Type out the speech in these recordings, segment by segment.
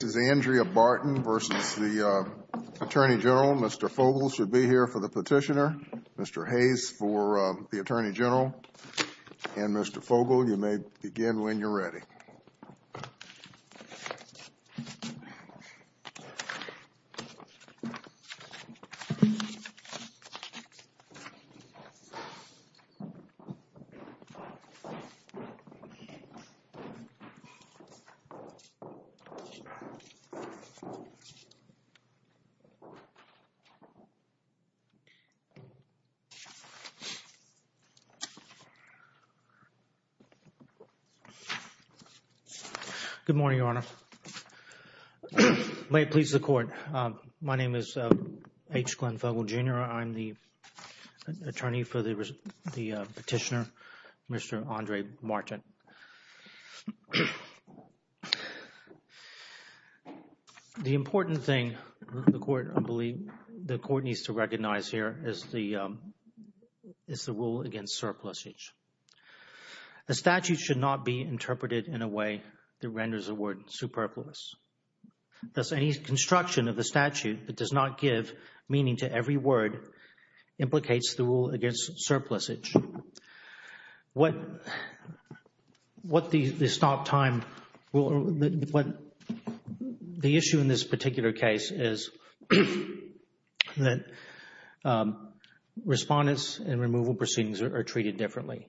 This is Andrea Barton versus the Attorney General. Mr. Fogel should be here for the petitioner. Mr. Hayes for the Attorney General. And Mr. Fogel, you may begin when you're ready. Good morning, Your Honor. May it please the Court, my name is H. Glenn Fogel, Jr. I'm the attorney for the petitioner, Mr. Andre Barton. The important thing the Court needs to recognize here is the rule against surplusage. The statute should not be interpreted in a way that renders the word superfluous. Thus, any construction of the statute that does not give meaning to every word implicates the rule against surplusage. The issue in this particular case is that Respondents in removal proceedings are treated differently.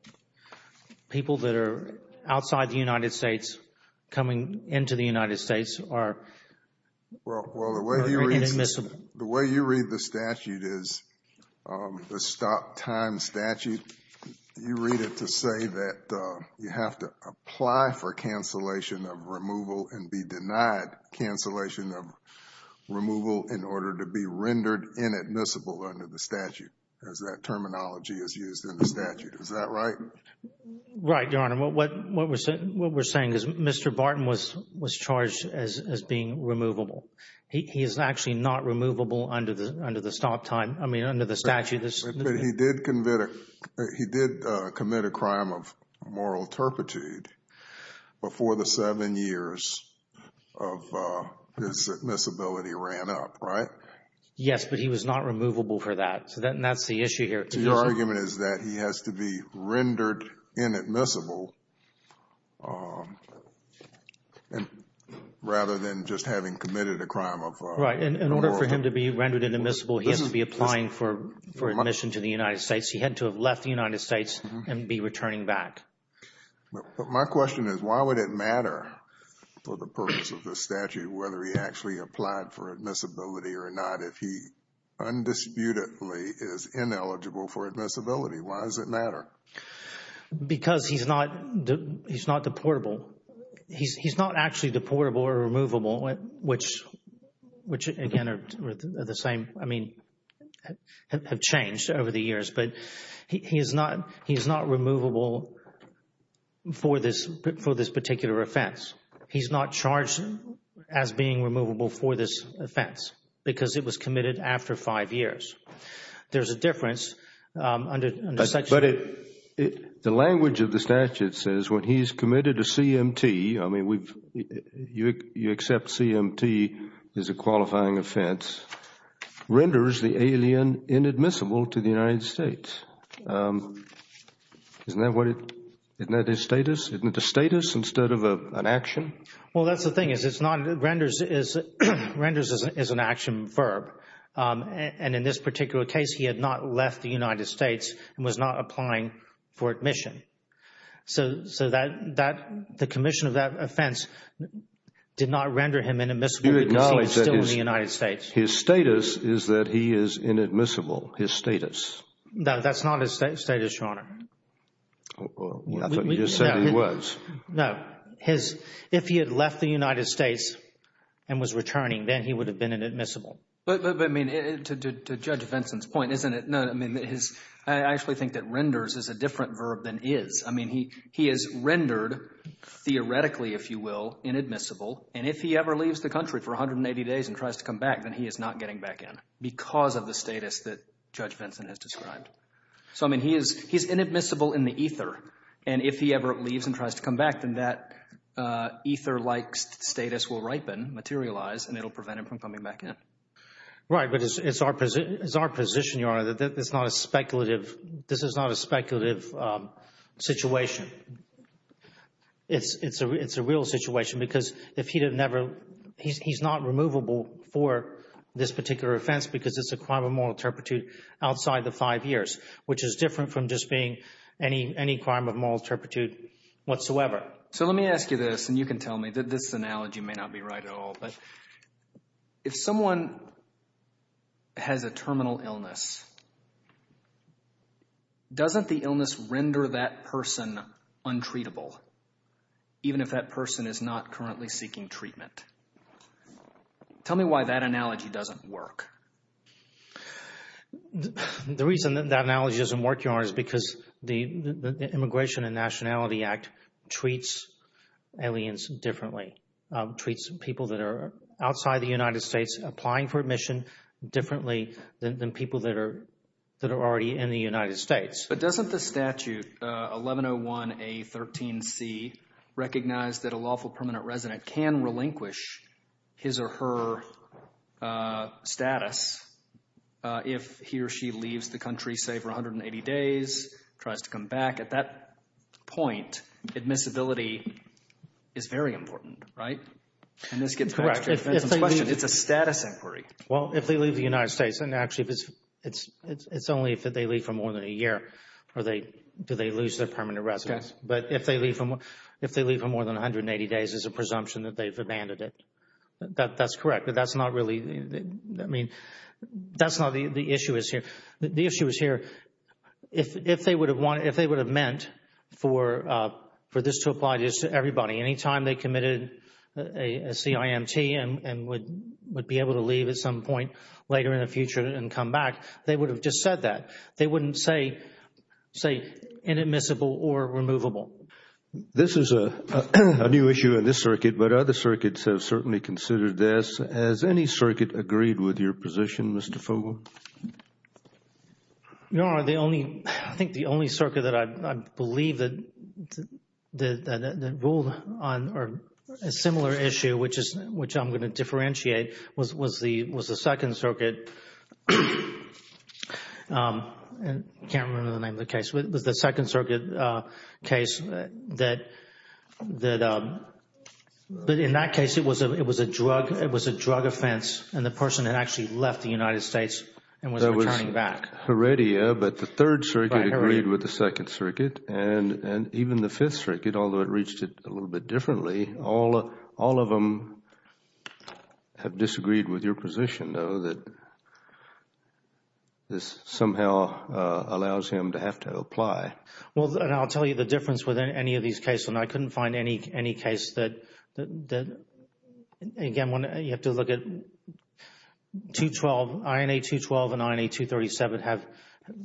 People that are outside the United States coming into the United States are inadmissible. The way you read the statute is the stop time statute. You read it to say that you have to apply for cancellation of removal and be denied cancellation of removal in order to be rendered inadmissible under the statute, as that terminology is used in the statute. Is that right? Right, Your Honor. What we're saying is Mr. Barton was charged as being removable. He is actually not removable under the stop time, I mean, under the statute. But he did commit a crime of moral turpitude before the seven years of his admissibility ran up, right? Yes, but he was not removable for that. And that's the issue here. Your argument is that he has to be rendered inadmissible rather than just having committed a crime of moral turpitude. Right. In order for him to be rendered inadmissible, he has to be applying for admission to the United States. He had to have left the United States and be returning back. But my question is, why would it matter for the purpose of the statute whether he actually applied for admissibility or not if he undisputedly is ineligible for admissibility? Why does it matter? Because he's not deportable. He's not actually deportable or removable, which again are the same, I mean, have changed over the years. But he is not removable for this particular offense. He's not charged as being removable for this offense because it was committed after five years. There's a difference. But the language of the statute says when he's committed a CMT, I mean, you accept CMT as a qualifying offense, renders the alien inadmissible to the United States. Isn't that a status instead of an action? Well, that's the thing is it's not, renders is an action verb. And in this particular case, he had not left the United States and was not applying for admission. So the commission of that offense did not render him inadmissible because he was still in the United States. His status is that he is inadmissible, his status. No, that's not his status, Your Honor. I thought you just said he was. No, his, if he had left the United States and was returning, then he would have been inadmissible. But, I mean, to Judge Vinson's point, isn't it, no, I mean, his, I actually think that renders is a different verb than is. I mean, he is rendered theoretically, if you will, inadmissible. And if he ever leaves the country for 180 days and tries to come back, then he is not getting back in because of the status that Judge Vinson has described. So, I mean, he is inadmissible in the ether. And if he ever leaves and tries to come back, then that ether-like status will ripen, materialize, and it will prevent him from coming back in. Right, but it's our position, Your Honor, that it's not a speculative, this is not a speculative situation. It's a real situation because if he had never, he's not removable for this particular offense because it's a crime of moral turpitude outside the five years, which is different from just being any crime of moral turpitude whatsoever. So let me ask you this, and you can tell me, this analogy may not be right at all, but if someone has a terminal illness, doesn't the illness render that person untreatable, even if that person is not currently seeking treatment? Tell me why that analogy doesn't work. The reason that analogy doesn't work, Your Honor, is because the Immigration and Nationality Act treats aliens differently, treats people that are outside the United States applying for admission differently than people that are already in the United States. But doesn't the statute, 1101A13C, recognize that a lawful permanent resident can relinquish his or her status if he or she leaves the country, say, for 180 days, tries to come back? At that point, admissibility is very important, right? And this gets back to your defense's question, it's a status inquiry. Well, if they leave the United States, and actually it's only if they leave for more than a year, do they lose their permanent residence. But if they leave for more than 180 days, it's a presumption that they've abandoned it. That's correct, but that's not really, I mean, that's not the issue here. The issue is here, if they would have meant for this to apply to everybody, anytime they committed a CIMT and would be able to leave at some point later in the future and come back, they would have just said that. They wouldn't say inadmissible or removable. This is a new issue in this circuit, but other circuits have certainly considered this. Has any circuit agreed with your position, Mr. Fogle? No. I think the only circuit that I believe that ruled on a similar issue, which I'm going to differentiate, was the Second Circuit. I can't remember the name of the case. It was the Second Circuit case that, in that case, it was a drug offense and the person had actually left the United States and was returning back. There was Heredia, but the Third Circuit agreed with the Second Circuit and even the Fifth Circuit, although it reached it a little bit differently, all of them have disagreed with your position, though, that this somehow allows him to have to apply. Well, and I'll tell you the difference with any of these cases. I couldn't find any case that, again, you have to look at 212, INA 212 and INA 237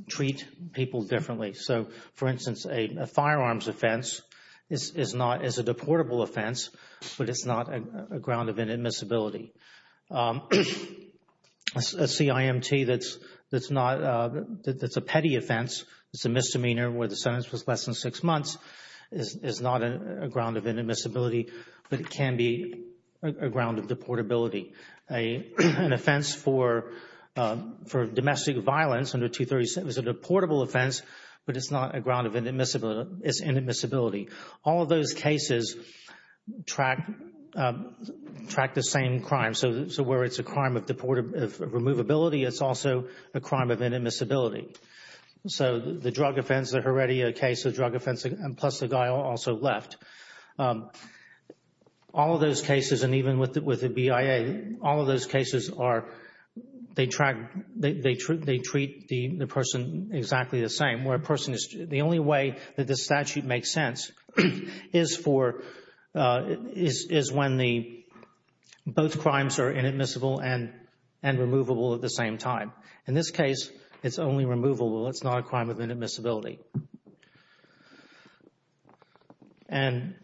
treat people differently. So, for instance, a firearms offense is a deportable offense, but it's not a ground of inadmissibility. A CIMT that's a petty offense, it's a misdemeanor where the sentence was less than six months, is not a ground of inadmissibility, but it can be a ground of deportability. An offense for domestic violence under 237 is a deportable offense, but it's not a ground of inadmissibility. All of those cases track the same crime. So, where it's a crime of removability, it's also a crime of inadmissibility. So, the drug offense, the Heredia case, the drug offense, plus the guy also left. All of those cases, and even with the BIA, all of those cases are, they track, they treat the person exactly the same. Where a person is, the only way that this statute makes sense is for, is when the, both crimes are inadmissible and removable at the same time. In this case, it's only removable. It's not a crime of inadmissibility. And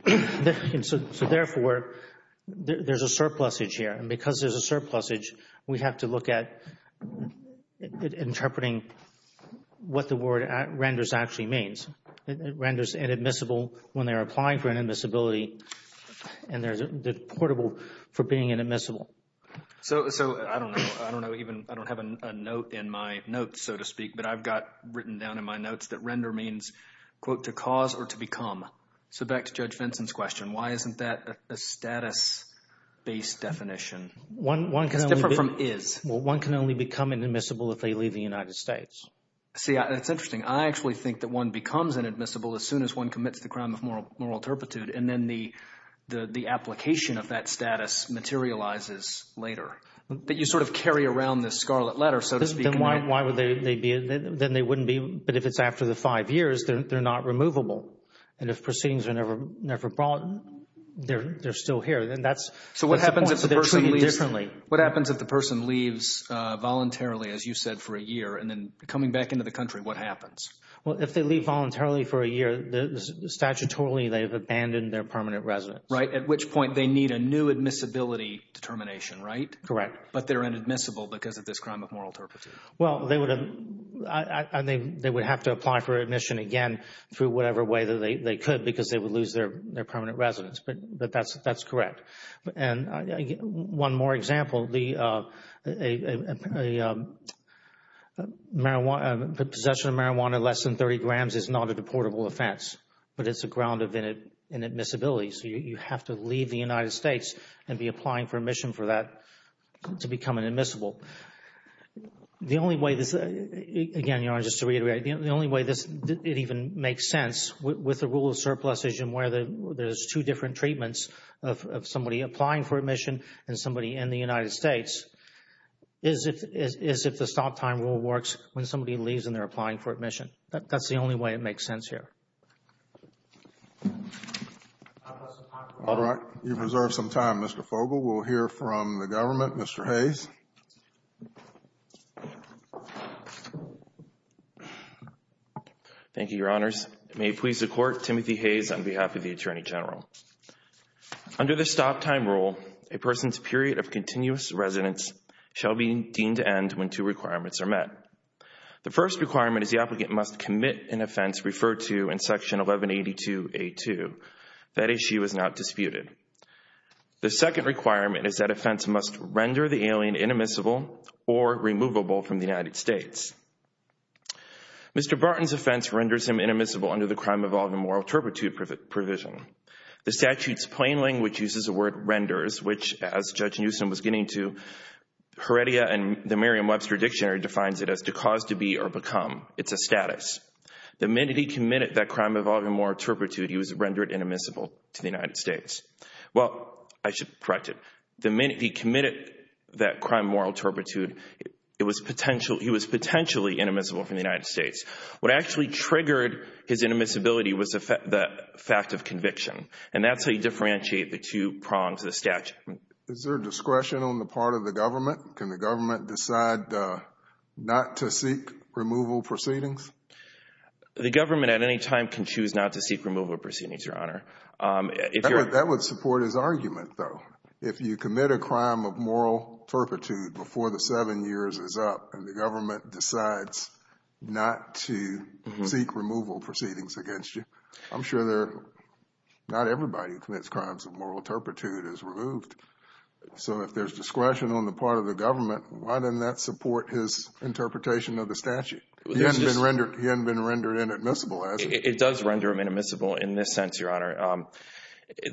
so, therefore, there's a surplusage here. And because there's a surplusage, we have to look at interpreting what the word renders actually means. It renders inadmissible when they're applying for inadmissibility, and there's deportable for being inadmissible. So, I don't know, I don't know even, I don't have a note in my notes, so to speak, but I've got written down in my notes that render means, quote, to cause or to become. So, back to Judge Vinson's question, why isn't that a status-based definition? It's different from is. Well, one can only become inadmissible if they leave the United States. See, that's interesting. I actually think that one becomes inadmissible as soon as one commits the crime of moral turpitude, and then the application of that status materializes later. But you sort of carry around this scarlet letter, so to speak. Then why would they be, then they wouldn't be, but if it's after the five years, they're not removable. And if proceedings are never brought, they're still here. So, what happens if the person leaves voluntarily, as you said, for a year, and then coming back into the country, what happens? Well, if they leave voluntarily for a year, statutorily they have abandoned their permanent residence. Right, at which point they need a new admissibility determination, right? Correct. But they're inadmissible because of this crime of moral turpitude. Well, they would have to apply for admission again through whatever way they could because they would lose their permanent residence, but that's correct. And one more example, the possession of marijuana less than 30 grams is not a deportable offense, but it's a ground of inadmissibility. So, you have to leave the United States and be applying for admission for that to become an admissible. The only way this, again, just to reiterate, the only way it even makes sense with the rule of surpluses and where there's two different treatments of somebody applying for admission and somebody in the United States is if the stop time rule works when somebody leaves and they're applying for admission. That's the only way it makes sense here. All right, you've reserved some time, Mr. Fogle. We'll hear from the government. Mr. Hayes. Thank you, Your Honors. It may please the Court, Timothy Hayes on behalf of the Attorney General. Under the stop time rule, a person's period of continuous residence shall be deemed to end when two requirements are met. The first requirement is the applicant must commit an offense referred to in Section 1182A2. That issue is not disputed. The second requirement is that offense must render the alien inadmissible or removable from the United States. Mr. Barton's offense renders him inadmissible under the crime of all moral turpitude provision. The statute's plain language uses the word renders, which, as Judge Newsom was getting to, Heredia and the Merriam-Webster Dictionary defines it as to cause to be or become. It's a status. The minute he committed that crime of all moral turpitude, he was rendered inadmissible to the United States. Well, I should correct it. The minute he committed that crime of moral turpitude, he was potentially inadmissible from the United States. What actually triggered his inadmissibility was the fact of conviction. And that's how you differentiate the two prongs of the statute. Is there discretion on the part of the government? Can the government decide not to seek removal proceedings? The government at any time can choose not to seek removal proceedings, Your Honor. That would support his argument, though. If you commit a crime of moral turpitude before the seven years is up, and the government decides not to seek removal proceedings against you, I'm sure not everybody who commits crimes of moral turpitude is removed. So if there's discretion on the part of the government, why doesn't that support his interpretation of the statute? He hasn't been rendered inadmissible, has he? It does render him inadmissible in this sense, Your Honor.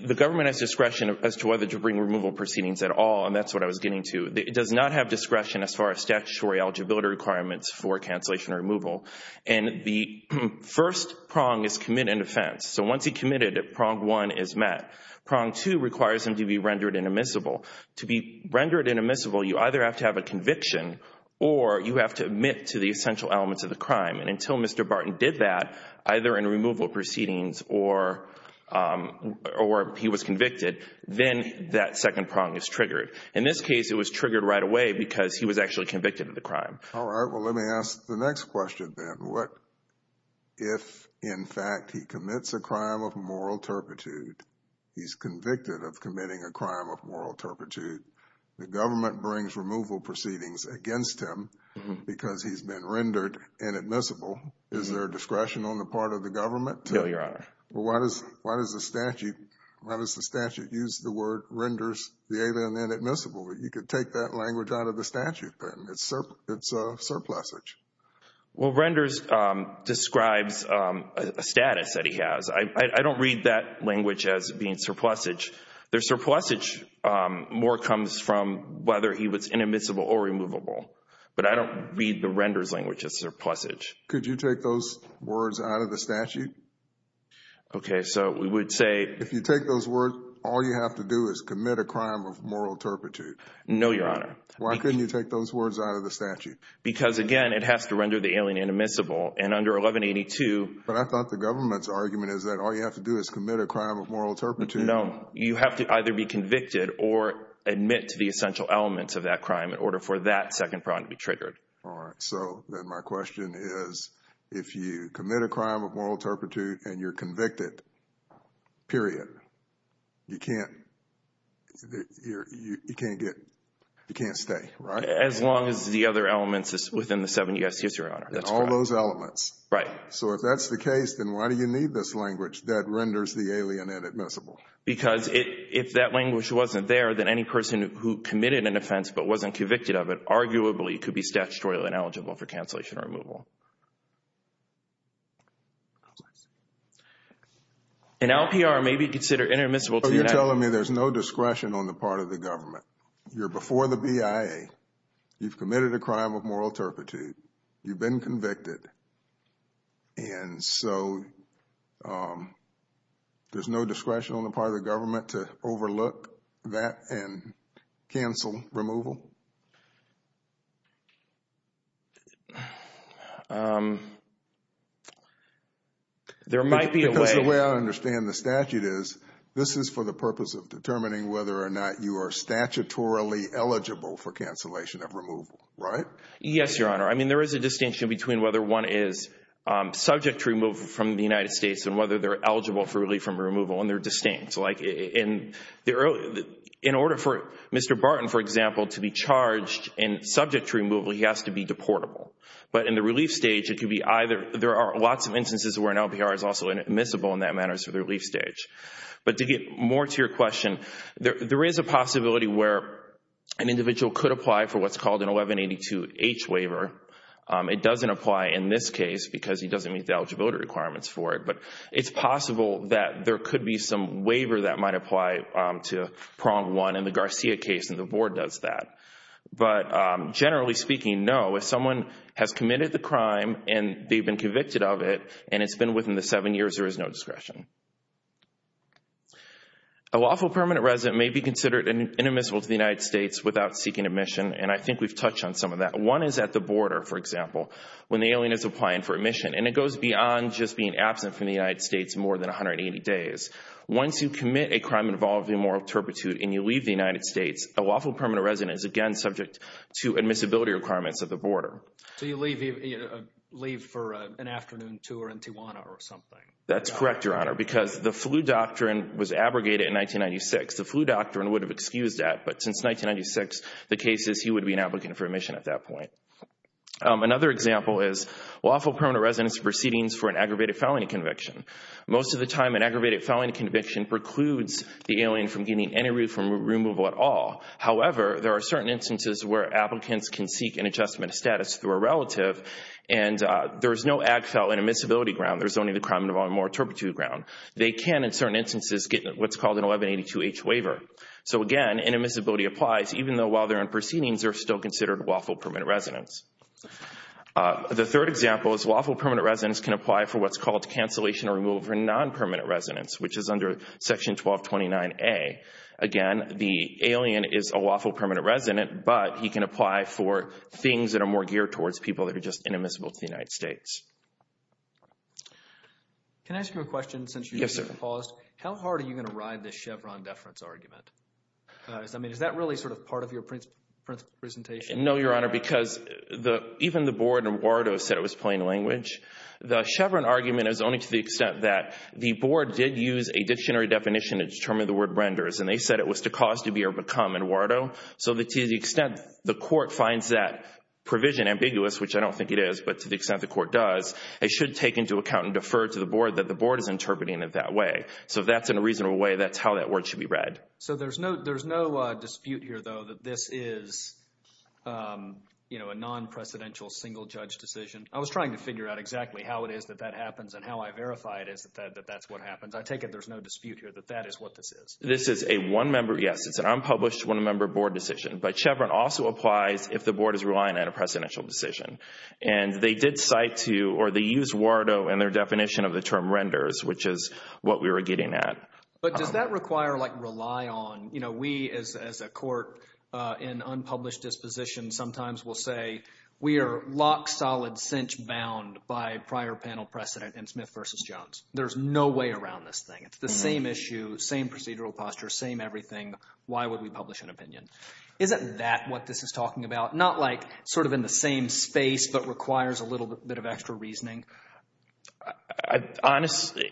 The government has discretion as to whether to bring removal proceedings at all, and that's what I was getting to. It does not have discretion as far as statutory eligibility requirements for cancellation or removal. And the first prong is commit an offense. So once he committed, prong one is met. Prong two requires him to be rendered inadmissible. To be rendered inadmissible, you either have to have a conviction or you have to admit to the essential elements of the crime. And until Mr. Barton did that, either in removal proceedings or he was convicted, then that second prong is triggered. In this case, it was triggered right away because he was actually convicted of the crime. All right. Well, let me ask the next question then. What if, in fact, he commits a crime of moral turpitude, he's convicted of committing a crime of moral turpitude, the government brings removal proceedings against him because he's been rendered inadmissible, is there a discretion on the part of the government? No, Your Honor. Well, why does the statute use the word renders the alien inadmissible? You could take that language out of the statute then. It's a surplusage. Well, renders describes a status that he has. I don't read that language as being surplusage. The surplusage more comes from whether he was inadmissible or removable. But I don't read the renders language as surplusage. Could you take those words out of the statute? Okay. So we would say— If you take those words, all you have to do is commit a crime of moral turpitude. No, Your Honor. Why couldn't you take those words out of the statute? Because, again, it has to render the alien inadmissible. And under 1182— But I thought the government's argument is that all you have to do is commit a crime of moral turpitude. No. You have to either be convicted or admit to the essential elements of that crime in order for that second prong to be triggered. All right. So then my question is, if you commit a crime of moral turpitude and you're convicted, period, you can't stay, right? As long as the other elements is within the 7 U.S. history, Your Honor. All those elements. Right. So if that's the case, then why do you need this language that renders the alien inadmissible? Because if that language wasn't there, then any person who committed an offense but wasn't convicted of it, arguably could be statutorily ineligible for cancellation or removal. An LPR may be considered inadmissible— You've committed a crime of moral turpitude, you've been convicted, and so there's no discretion on the part of the government to overlook that and cancel removal? There might be a way— Because the way I understand the statute is, this is for the purpose of determining whether or not you are statutorily eligible for cancellation of removal, right? Yes, Your Honor. I mean, there is a distinction between whether one is subject to removal from the United States and whether they're eligible for relief from removal, and they're distinct. In order for Mr. Barton, for example, to be charged and subject to removal, he has to be deportable. But in the relief stage, there are lots of instances where an LPR is also inadmissible in that manner, so the relief stage. But to get more to your question, there is a possibility where an individual could apply for what's called an 1182H waiver. It doesn't apply in this case because he doesn't meet the eligibility requirements for it, but it's possible that there could be some waiver that might apply to Prong 1 in the Garcia case, and the Board does that. But generally speaking, no. If someone has committed the crime and they've been convicted of it, and it's been within the seven years, there is no discretion. A lawful permanent resident may be considered inadmissible to the United States without seeking admission, and I think we've touched on some of that. One is at the border, for example, when the alien is applying for admission, and it goes beyond just being absent from the United States more than 180 days. Once you commit a crime involving moral turpitude and you leave the United States, a lawful permanent resident is again subject to admissibility requirements at the border. So you leave for an afternoon tour in Tijuana or something. That's correct, Your Honor, because the flu doctrine was abrogated in 1996. The flu doctrine would have excused that, but since 1996, the case is he would be an applicant for admission at that point. Another example is lawful permanent resident's proceedings for an aggravated felony conviction. Most of the time an aggravated felony conviction precludes the alien from getting any room for removal at all. However, there are certain instances where applicants can seek an adjustment of status through a relative, and there's no ag felon admissibility ground. There's only the crime involving moral turpitude ground. They can, in certain instances, get what's called an 1182-H waiver. So again, an admissibility applies even though while they're in proceedings they're still considered lawful permanent residents. The third example is lawful permanent residents can apply for what's called cancellation or removal for non-permanent residents, which is under Section 1229A. Again, the alien is a lawful permanent resident, but he can apply for things that are more geared towards people that are just inadmissible to the United States. Can I ask you a question since you paused? Yes, sir. How hard are you going to ride this Chevron deference argument? I mean, is that really sort of part of your presentation? No, Your Honor, because even the board in Bordeaux said it was plain language. The Chevron argument is only to the extent that the board did use a dictionary definition to determine the word renders, and they said it was to cause to be or become in Bordeaux. So to the extent the court finds that provision ambiguous, which I don't think it is, but to the extent the court does, it should take into account and defer to the board that the board is interpreting it that way. So if that's in a reasonable way, that's how that word should be read. So there's no dispute here, though, that this is a non-presidential single-judge decision. I was trying to figure out exactly how it is that that happens and how I verify it is that that's what happens. I take it there's no dispute here that that is what this is. This is a one-member, yes, it's an unpublished one-member board decision. But Chevron also applies if the board is relying on a presidential decision. And they did cite to or they used Bordeaux in their definition of the term renders, which is what we were getting at. But does that require, like, rely on? You know, we as a court in unpublished dispositions sometimes will say we are lock, solid, cinch-bound by prior panel precedent in Smith v. Jones. There's no way around this thing. It's the same issue, same procedural posture, same everything. Why would we publish an opinion? Isn't that what this is talking about? Not, like, sort of in the same space but requires a little bit of extra reasoning. Honestly,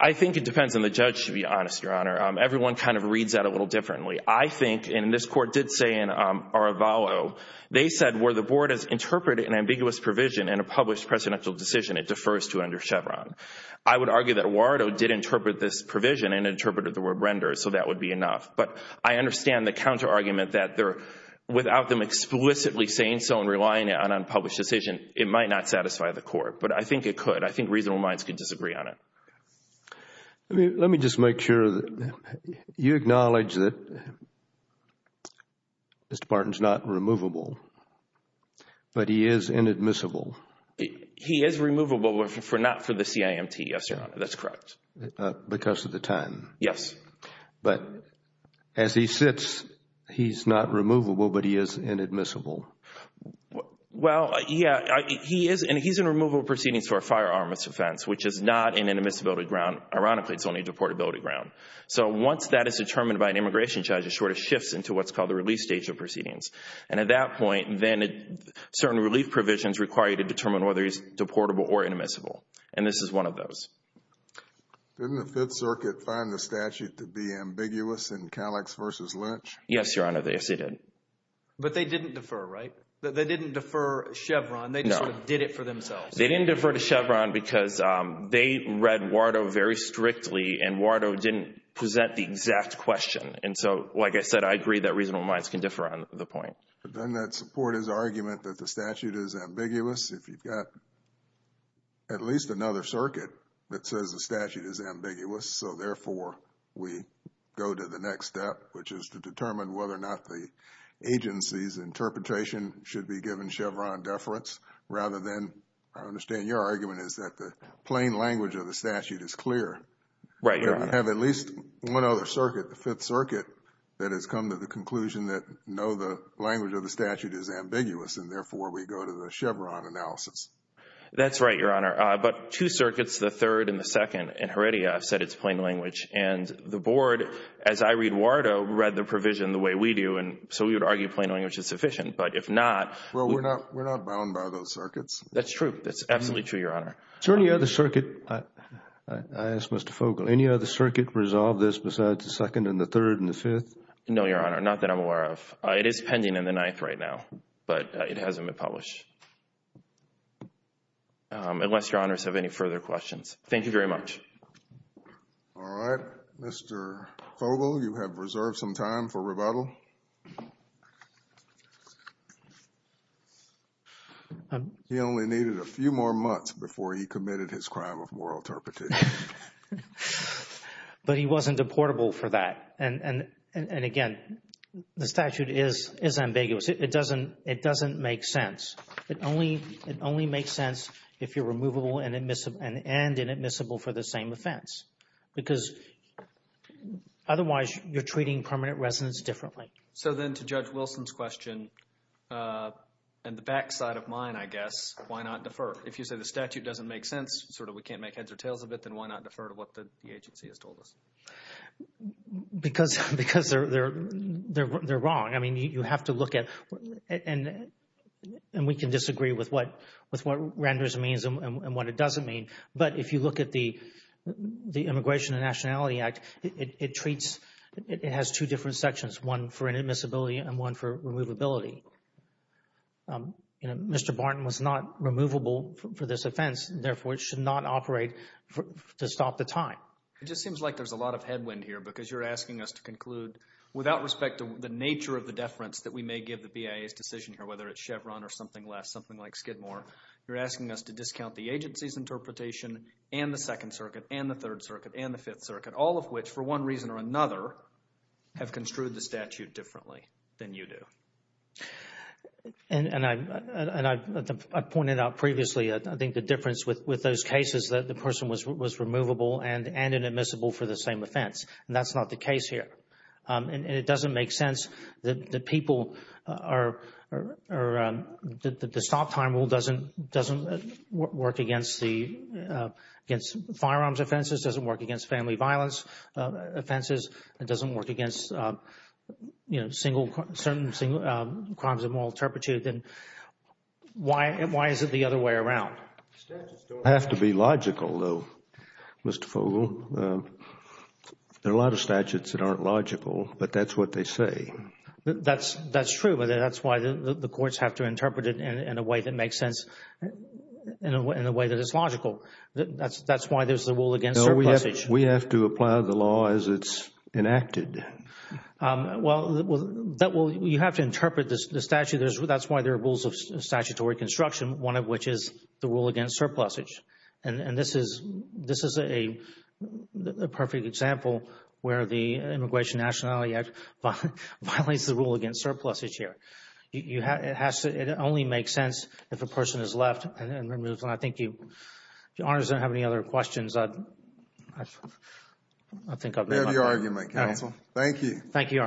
I think it depends on the judge, to be honest, Your Honor. Everyone kind of reads that a little differently. I think, and this court did say in Arvallo, they said where the board has interpreted an ambiguous provision in a published presidential decision, it defers to under Chevron. I would argue that Wardo did interpret this provision and interpreted the word renders, so that would be enough. But I understand the counterargument that without them explicitly saying so and relying on unpublished decision, it might not satisfy the court. But I think it could. I think reasonable minds could disagree on it. Let me just make sure that you acknowledge that Mr. Barton is not removable, but he is inadmissible. He is removable, but not for the CIMT, yes, Your Honor. That's correct. Because of the time. Yes. But as he sits, he's not removable, but he is inadmissible. Well, yeah, he is, and he's in removable proceedings for a firearm misdefense, which is not in an admissibility ground. Ironically, it's only a deportability ground. So once that is determined by an immigration judge, it sort of shifts into what's called the release stage of proceedings. And at that point, then certain relief provisions require you to determine whether he's deportable or inadmissible, and this is one of those. Didn't the Fifth Circuit find the statute to be ambiguous in Calix v. Lynch? Yes, Your Honor, yes, they did. But they didn't defer, right? They didn't defer Chevron. No. They just sort of did it for themselves. They didn't defer to Chevron because they read Wardo very strictly, and Wardo didn't present the exact question. And so, like I said, I agree that reasonable minds can differ on the point. Then that support his argument that the statute is ambiguous. If you've got at least another circuit that says the statute is ambiguous, so therefore we go to the next step, which is to determine whether or not the agency's interpretation should be given Chevron deference rather than, I understand your argument, is that the plain language of the statute is clear. Right, Your Honor. We have at least one other circuit, the Fifth Circuit, that has come to the conclusion that, no, the language of the statute is ambiguous, and therefore we go to the Chevron analysis. That's right, Your Honor. But two circuits, the third and the second in Heredia, have said it's plain language. And the Board, as I read Wardo, read the provision the way we do, and so we would argue plain language is sufficient. But if not we're not bound by those circuits. That's true. That's absolutely true, Your Honor. Is there any other circuit, I ask Mr. Fogle, any other circuit resolve this besides the second and the third and the fifth? No, Your Honor, not that I'm aware of. It is pending in the ninth right now, but it hasn't been published. Unless Your Honors have any further questions. Thank you very much. All right. Mr. Fogle, you have reserved some time for rebuttal. Mr. Fogle. He only needed a few more months before he committed his crime of moral interpretation. But he wasn't deportable for that. And, again, the statute is ambiguous. It doesn't make sense. It only makes sense if you're removable and inadmissible for the same offense, because otherwise you're treating permanent residence differently. So then to Judge Wilson's question, and the backside of mine, I guess, why not defer? If you say the statute doesn't make sense, sort of we can't make heads or tails of it, then why not defer to what the agency has told us? Because they're wrong. I mean, you have to look at, and we can disagree with what renders means and what it doesn't mean. But if you look at the Immigration and Nationality Act, it treats, it has two different sections, one for inadmissibility and one for removability. You know, Mr. Barton was not removable for this offense, therefore it should not operate to stop the time. It just seems like there's a lot of headwind here because you're asking us to conclude, without respect to the nature of the deference that we may give the BIA's decision here, whether it's Chevron or something less, something like Skidmore, you're asking us to discount the agency's interpretation and the Second Circuit and the Third Circuit and the Fifth Circuit, all of which, for one reason or another, have construed the statute differently than you do. And I've pointed out previously, I think, the difference with those cases, that the person was removable and inadmissible for the same offense. And that's not the case here. And it doesn't make sense that the people are, that the stop time rule doesn't work against the, against firearms offenses, doesn't work against family violence offenses, it doesn't work against, you know, single, certain crimes of moral turpitude. Then why is it the other way around? Statutes don't have to be logical, though, Mr. Fogle. There are a lot of statutes that aren't logical, but that's what they say. That's true, but that's why the courts have to interpret it in a way that makes sense, in a way that is logical. That's why there's the rule against surplusage. No, we have to apply the law as it's enacted. Well, you have to interpret the statute. That's why there are rules of statutory construction, one of which is the rule against surplusage. And this is a perfect example where the Immigration Nationality Act violates the rule against surplusage here. It only makes sense if a person is left and removed. And I think you, if Your Honor doesn't have any other questions, I think I've made my point. I have your argument, counsel. Thank you. Thank you, Your Honor.